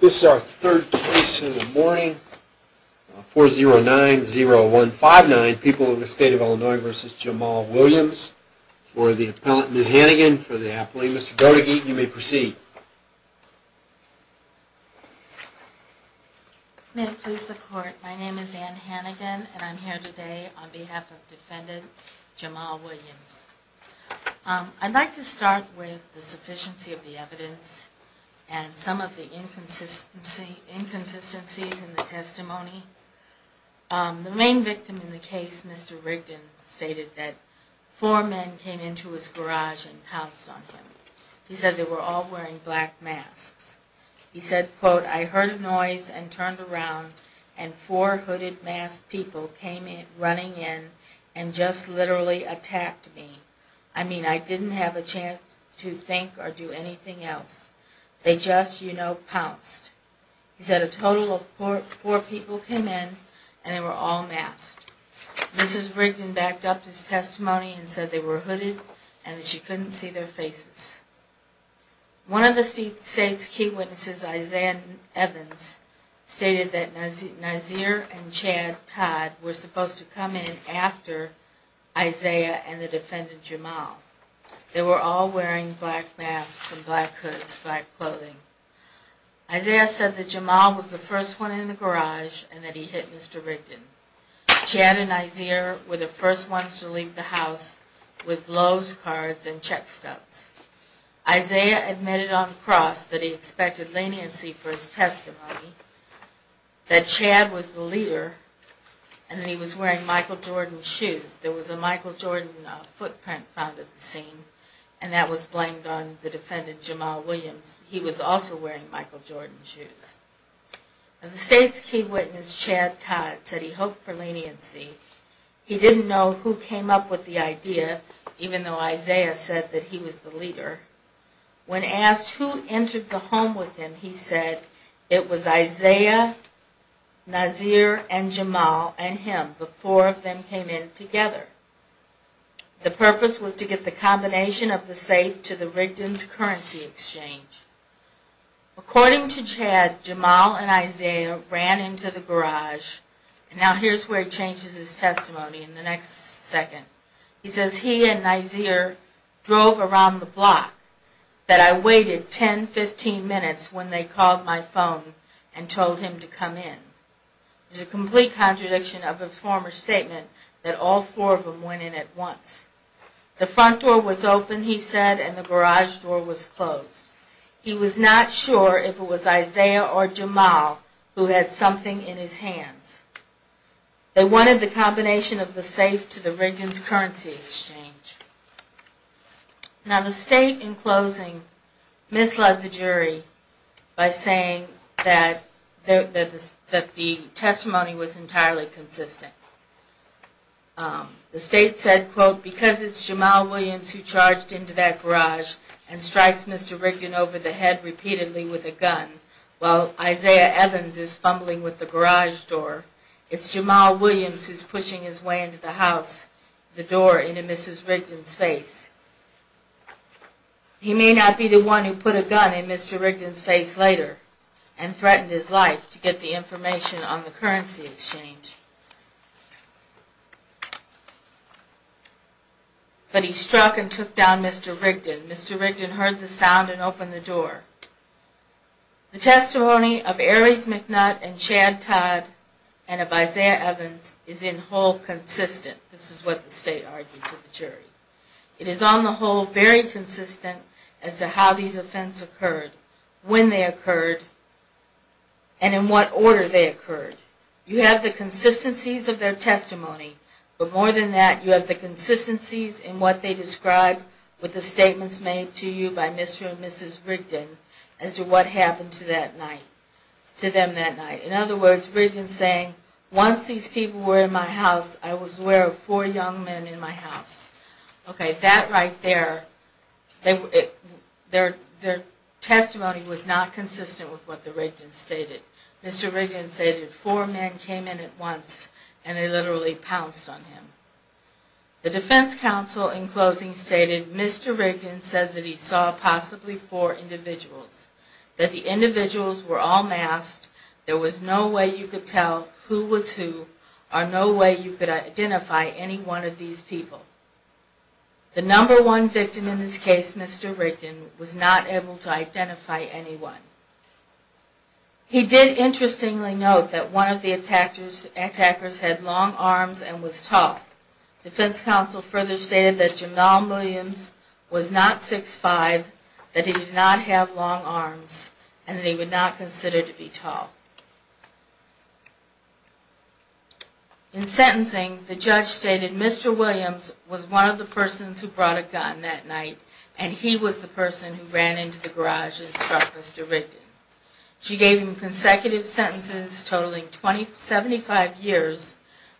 This is our third case of the morning, 4-0-9-0-1-5-9, People of the State of Illinois v. Jamal Williams. For the appellant, Ms. Hannigan, for the appellee, Mr. Goedege, you may proceed. Ann Hannigan May it please the court, my name is Ann Hannigan and I'm here today on behalf of defendant Jamal Williams. I'd like to start with the sufficiency of the evidence and some of the inconsistencies in the testimony. The main victim in the case, Mr. Rigdon, stated that four men came into his garage and pounced on him. He said they were all wearing black masks. He said, quote, I heard a noise and turned around and four hooded masked people came running in and just literally attacked me. I mean, I didn't have a chance to think or do anything else. They just, you know, pounced. He said a total of four people came in and they were all masked. Mrs. Rigdon backed up his testimony and said they were hooded and that she couldn't see their faces. One of the state's key witnesses, Isaiah Evans, stated that Nazir and Chad Todd were supposed to come in after Isaiah and the defendant Jamal. They were all wearing black masks and black hoods, black clothing. Isaiah said that Jamal was the first one in the garage and that he hit Mr. Rigdon. Chad and Nazir were the first ones to leave the house with loaves, cards, and check stubs. Isaiah admitted on the cross that he expected leniency for his testimony, that Chad was the leader, and that he was wearing Michael Jordan shoes. There was a Michael Jordan footprint found at the scene and that was blamed on the defendant, Jamal Williams. He was also wearing Michael Jordan shoes. The state's key witness, Chad Todd, said he hoped for leniency. He didn't know who came up with the idea, even though Isaiah said that he was the leader. When asked who entered the home with him, he said it was Isaiah, Nazir, and Jamal and him. The four of them came in together. The purpose was to get the combination of the safe to the Rigdon's currency exchange. According to Chad, Jamal and Isaiah ran into the garage, and now here's where he changes his testimony in the next second. He says he and Nazir drove around the block, that I waited 10-15 minutes when they called my phone and told him to come in. It's a complete contradiction of a former statement that all four of them went in at once. The front door was open, he said, and the garage door was closed. He was not sure if it was Isaiah or Jamal who had something in his hands. They wanted the combination of the safe to the Rigdon's currency exchange. Now the state, in closing, misled the jury by saying that the testimony was entirely consistent. The state said, quote, because it's Jamal Williams who charged into that garage and strikes Mr. Rigdon over the head repeatedly with a gun, while Isaiah Evans is fumbling with the garage door, it's Jamal Williams who's pushing his way into the house, the door into Mrs. Rigdon's face. He may not be the one who put a gun in Mr. Rigdon's face later and threatened his life to get the information on the currency exchange. But he struck and took down Mr. Rigdon. Mr. Rigdon heard the sound and opened the door. The testimony of Ares McNutt and Chad Todd and of Isaiah Evans is in whole consistent, this is what the state argued to the jury. It is on the whole very consistent as to how these offenses occurred, when they occurred, and in what order they occurred. You have the consistencies of their testimony, but more than that, you have the consistencies in what they described with the statements made to you by Mr. and Mrs. Rigdon as to what happened to that night, to them that night. In other words, Rigdon saying, once these people were in my house, I was aware of four young men in my house. Okay, that right there, their testimony was not consistent with what the Rigdon stated. Mr. Rigdon stated four men came in at once and they literally pounced on him. The defense counsel in closing stated, Mr. Rigdon said that he saw possibly four individuals, that the individuals were all masked, there was no way you could tell who was who, or no way you could identify any one of these people. The number one victim in this case, Mr. Rigdon, was not able to identify anyone. He did interestingly note that one of the attackers had long arms and was tall. Defense counsel further stated that Jamal Williams was not 6'5", that he did not have long arms, and that he would not consider to be tall. In sentencing, the judge stated Mr. Williams was one of the persons who brought a gun that night, and he was the person who ran into the garage and struck Mr. Rigdon. She gave him consecutive sentences totaling 75 years,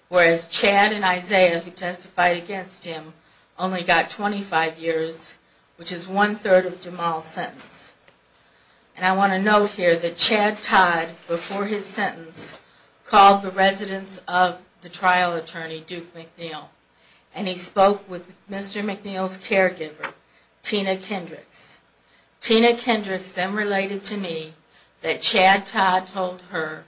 whereas Chad and Isaiah, who testified against him, only got 25 years, which is one-third of Jamal's sentence. And I want to note here that Chad Todd, before his sentence, called the residence of the trial attorney, Duke McNeil, and he spoke with Mr. McNeil's caregiver, Tina Kendricks. Tina Kendricks then related to me that Chad Todd told her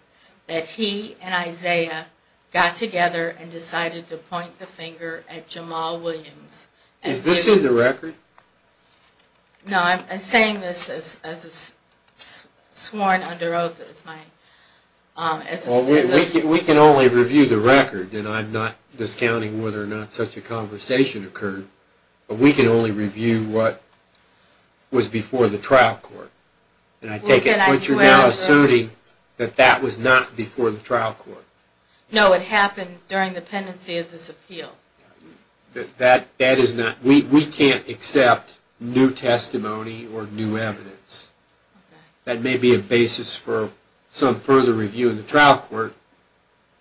that he and Isaiah got together and decided to point the finger at Jamal Williams. Is this in the record? No, I'm saying this as sworn under oath. Well, we can only review the record, and I'm not discounting whether or not such a conversation occurred, but we can only review what was before the trial court. And I take it that you're now asserting that that was not before the trial court? No, it happened during the pendency of this appeal. That is not, we can't accept new testimony or new evidence. That may be a basis for some further review in the trial court.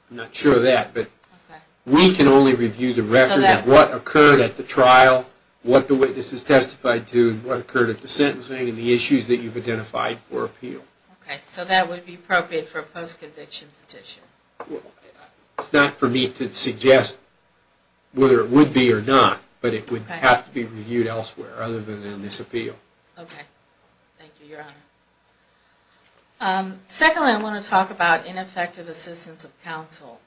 I'm not sure of that, but we can only review the record of what occurred at the trial, what the witnesses testified to, what occurred at the sentencing, and the issues that you've identified for appeal. Okay, so that would be appropriate for a post-conviction petition. It's not for me to suggest whether it would be or not, but it would have to be reviewed elsewhere other than in this appeal. Okay, thank you, Your Honor. Secondly, I want to talk about ineffective assistance of counsel.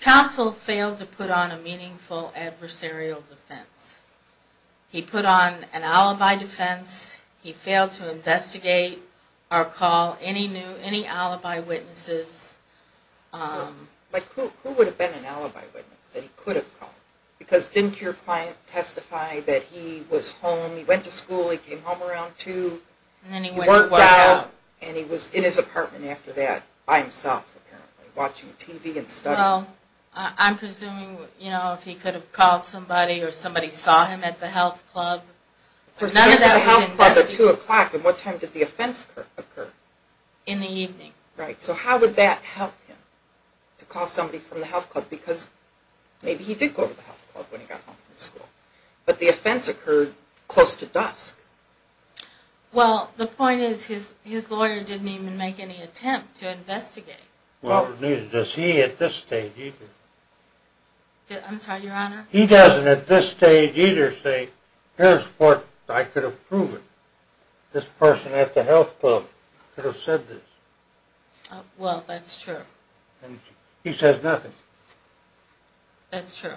Counsel failed to put on a meaningful adversarial defense. He put on an alibi defense, he failed to investigate or call any new, any alibi witnesses. Like who would have been an alibi witness that he could have called? Because didn't your client testify that he was home, he went to school, he came home around 2, he worked out, and he was in his apartment after that by himself apparently, watching TV and studying. Well, I'm presuming, you know, if he could have called somebody or somebody saw him at the health club, but none of that was investigated. He was at the health club at 2 o'clock, and what time did the offense occur? In the evening. Right, so how would that help him, to call somebody from the health club, because maybe he did go to the health club when he got home from school, but the offense occurred close to dusk. Well, the point is his lawyer didn't even make any attempt to investigate. Well, does he at this stage either? I'm sorry, your honor? He doesn't at this stage either say, here's what I could have proven. This person at the health club could have said this. Well, that's true. He says nothing. That's true,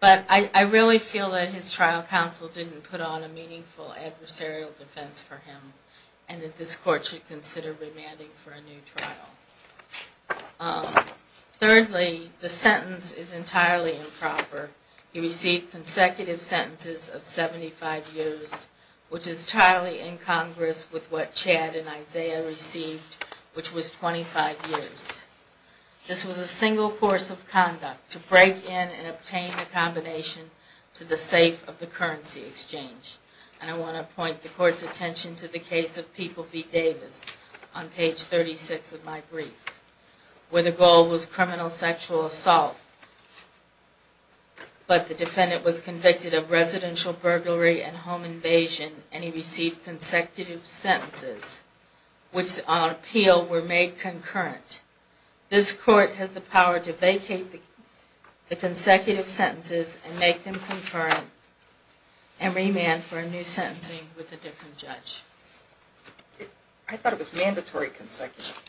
but I really feel that his trial counsel didn't put on a meaningful adversarial defense for him, and that this court should consider remanding for a new trial. Thirdly, the sentence is entirely improper. He received consecutive sentences of 75 years, which is entirely incongruous with what Chad and Isaiah received, which was 24 years. This was a single course of conduct, to break in and obtain a combination to the safe of the currency exchange. And I want to point the court's attention to the case of People v. Davis, on page 36 of my brief, where the goal was criminal sexual assault, but the defendant was convicted of residential burglary and home invasion, and he received consecutive sentences, which on appeal were made concurrently. This court has the power to vacate the consecutive sentences and make them concurrent, and remand for a new sentencing with a different judge. I thought it was mandatory consecutive.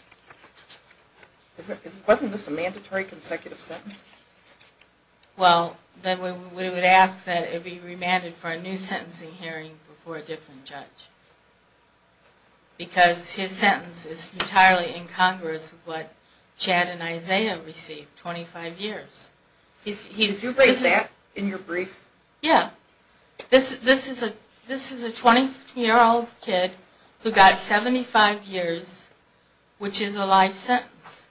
Well, then we would ask that it be remanded for a new sentencing hearing before a different judge. Because his sentence is entirely incongruous with what Chad and Isaiah received, 25 years. Did you write that in your brief? Yeah. This is a 20-year-old kid who got 75 years, which is a life sentence.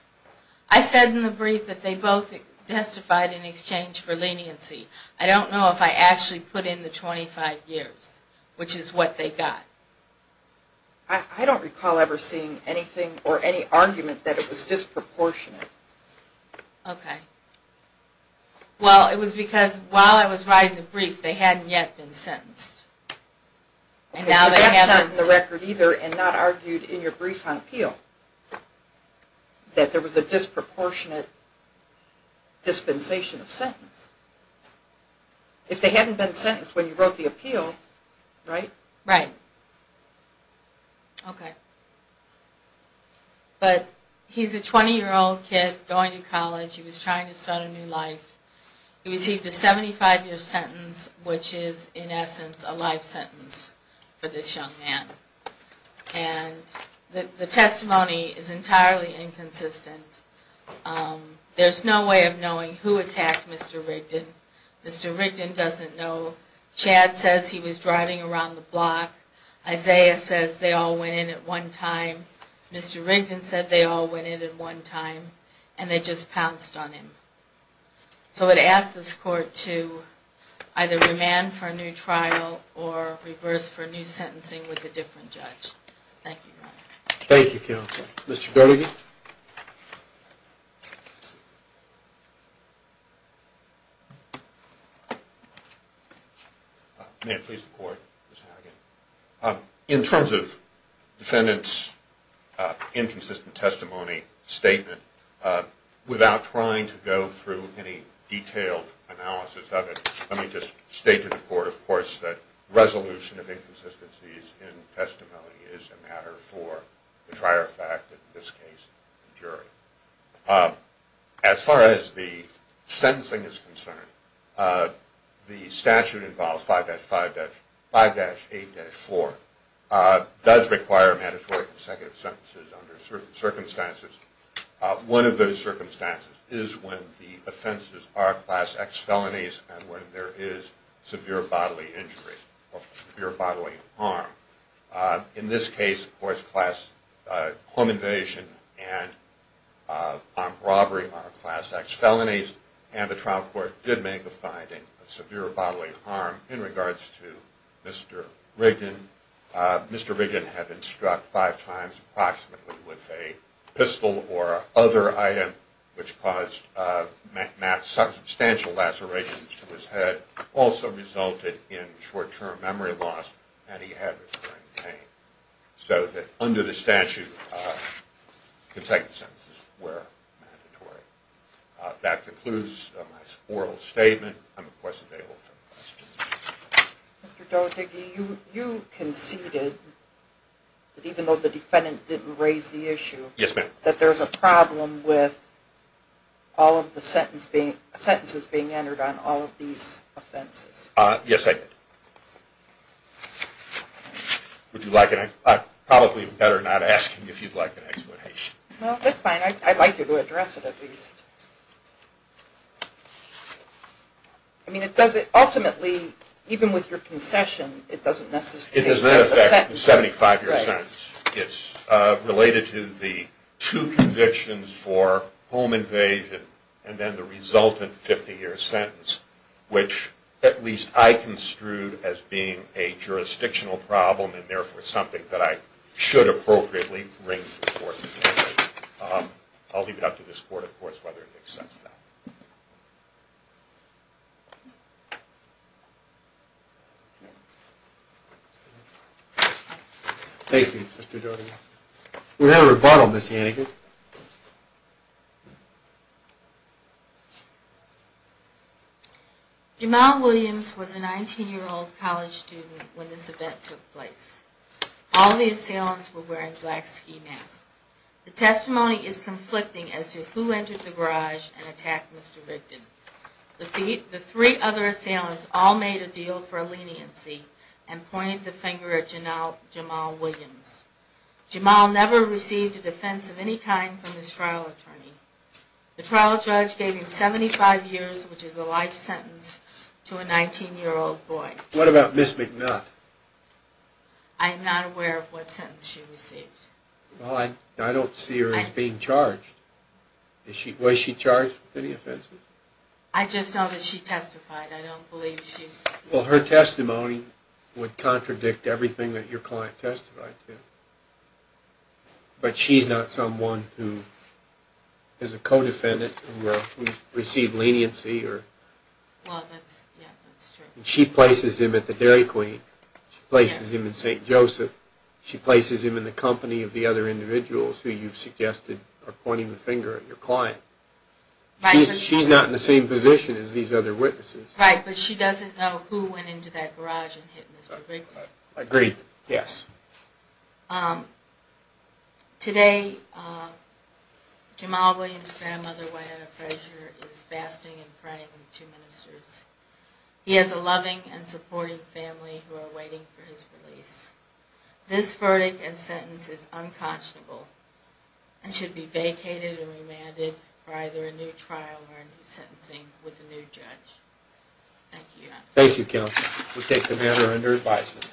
I said in the brief that they both testified in exchange for leniency. I don't know if I actually put in the 25 years, which is what they got. I don't recall ever seeing anything or any argument that it was disproportionate. Okay. Well, it was because while I was writing the brief, they hadn't yet been sentenced. Okay, so that's not in the record either, and not argued in your brief on appeal. That there was a disproportionate dispensation of sentence. If they hadn't been sentenced when you wrote the appeal, right? Right. Okay. But he's a 20-year-old kid going to college. He was trying to start a new life. He received a 75-year sentence, which is, in essence, a life sentence for this young man. And the testimony is entirely inconsistent. There's no way of knowing who attacked Mr. Rigdon. Mr. Rigdon doesn't know. Chad says he was driving around the block. Isaiah says they all went in at one time. Mr. Rigdon said they all went in at one time, and they just pounced on him. So I would ask this Court to either remand for a new trial or reverse for a new sentencing with a different judge. Thank you, Your Honor. Thank you, Counsel. Mr. Dornigan. May it please the Court, Ms. Harrigan. In terms of defendant's inconsistent testimony statement, without trying to go through any detailed analysis of it, let me just state to the Court, of course, that resolution of inconsistencies in testimony is a matter for the prior fact, and in this case, the jury. As far as the sentencing is concerned, the statute involves 5-5-5-8-4. It does require mandatory consecutive sentences under certain circumstances. One of those circumstances is when the offenses are class X felonies and when there is severe bodily injury or severe bodily harm. In this case, of course, class home invasion and armed robbery are class X felonies, and the trial court did make the finding of severe bodily harm in regards to Mr. Rigdon. Mr. Rigdon had been struck five times approximately with a pistol or other item, which caused substantial lacerations to his head, also resulted in short-term memory loss, and he had recurring pain, so that under the statute, consecutive sentences were mandatory. That concludes my oral statement. I'm, of course, available for questions. Mr. Doherty, you conceded, even though the defendant didn't raise the issue, that there's a problem with all of the sentences being entered on all of these offenses. Yes, I did. Would you like an explanation? No, that's fine. I'd like you to address it, at least. I mean, ultimately, even with your concession, it doesn't necessarily make sense. It's related to the two convictions for home invasion and then the resultant 50-year sentence, which at least I construed as being a jurisdictional problem, and therefore something that I should appropriately bring to the court. I'll leave it up to this court, of course, whether it accepts that. Thank you, Mr. Doherty. We have a rebuttal, Ms. Yannick. Jamal Williams was a 19-year-old college student when this event took place. All the assailants were wearing black ski masks. The testimony is conflicting as to who entered the garage and attacked Mr. Rigdon. The three other assailants all made a deal for leniency and pointed the finger at Jamal Williams. Jamal never received a defense of any kind from his trial attorney. The trial judge gave him 75 years, which is a life sentence, to a 19-year-old boy. What about Ms. McNutt? I'm not aware of what sentence she received. I don't see her as being charged. Was she charged with any offenses? I just know that she testified. Her testimony would contradict everything that your client testified to. But she's not someone who is a co-defendant and received leniency. She places him at the Dairy Queen. She places him at St. Joseph. She places him in the company of the other individuals who you've suggested are pointing the finger at your client. She's not in the same position as these other witnesses. Right, but she doesn't know who went into that garage and hit Mr. Rigdon. I agree, yes. Today, Jamal Williams' grandmother, Wayetta Frazier, is fasting and praying with the two ministers. He has a loving and supporting family who are waiting for his release. This verdict and sentence is unconscionable and should be vacated and remanded for either a new trial or a new sentencing with a new judge. Thank you, counsel. We take the matter under advisement.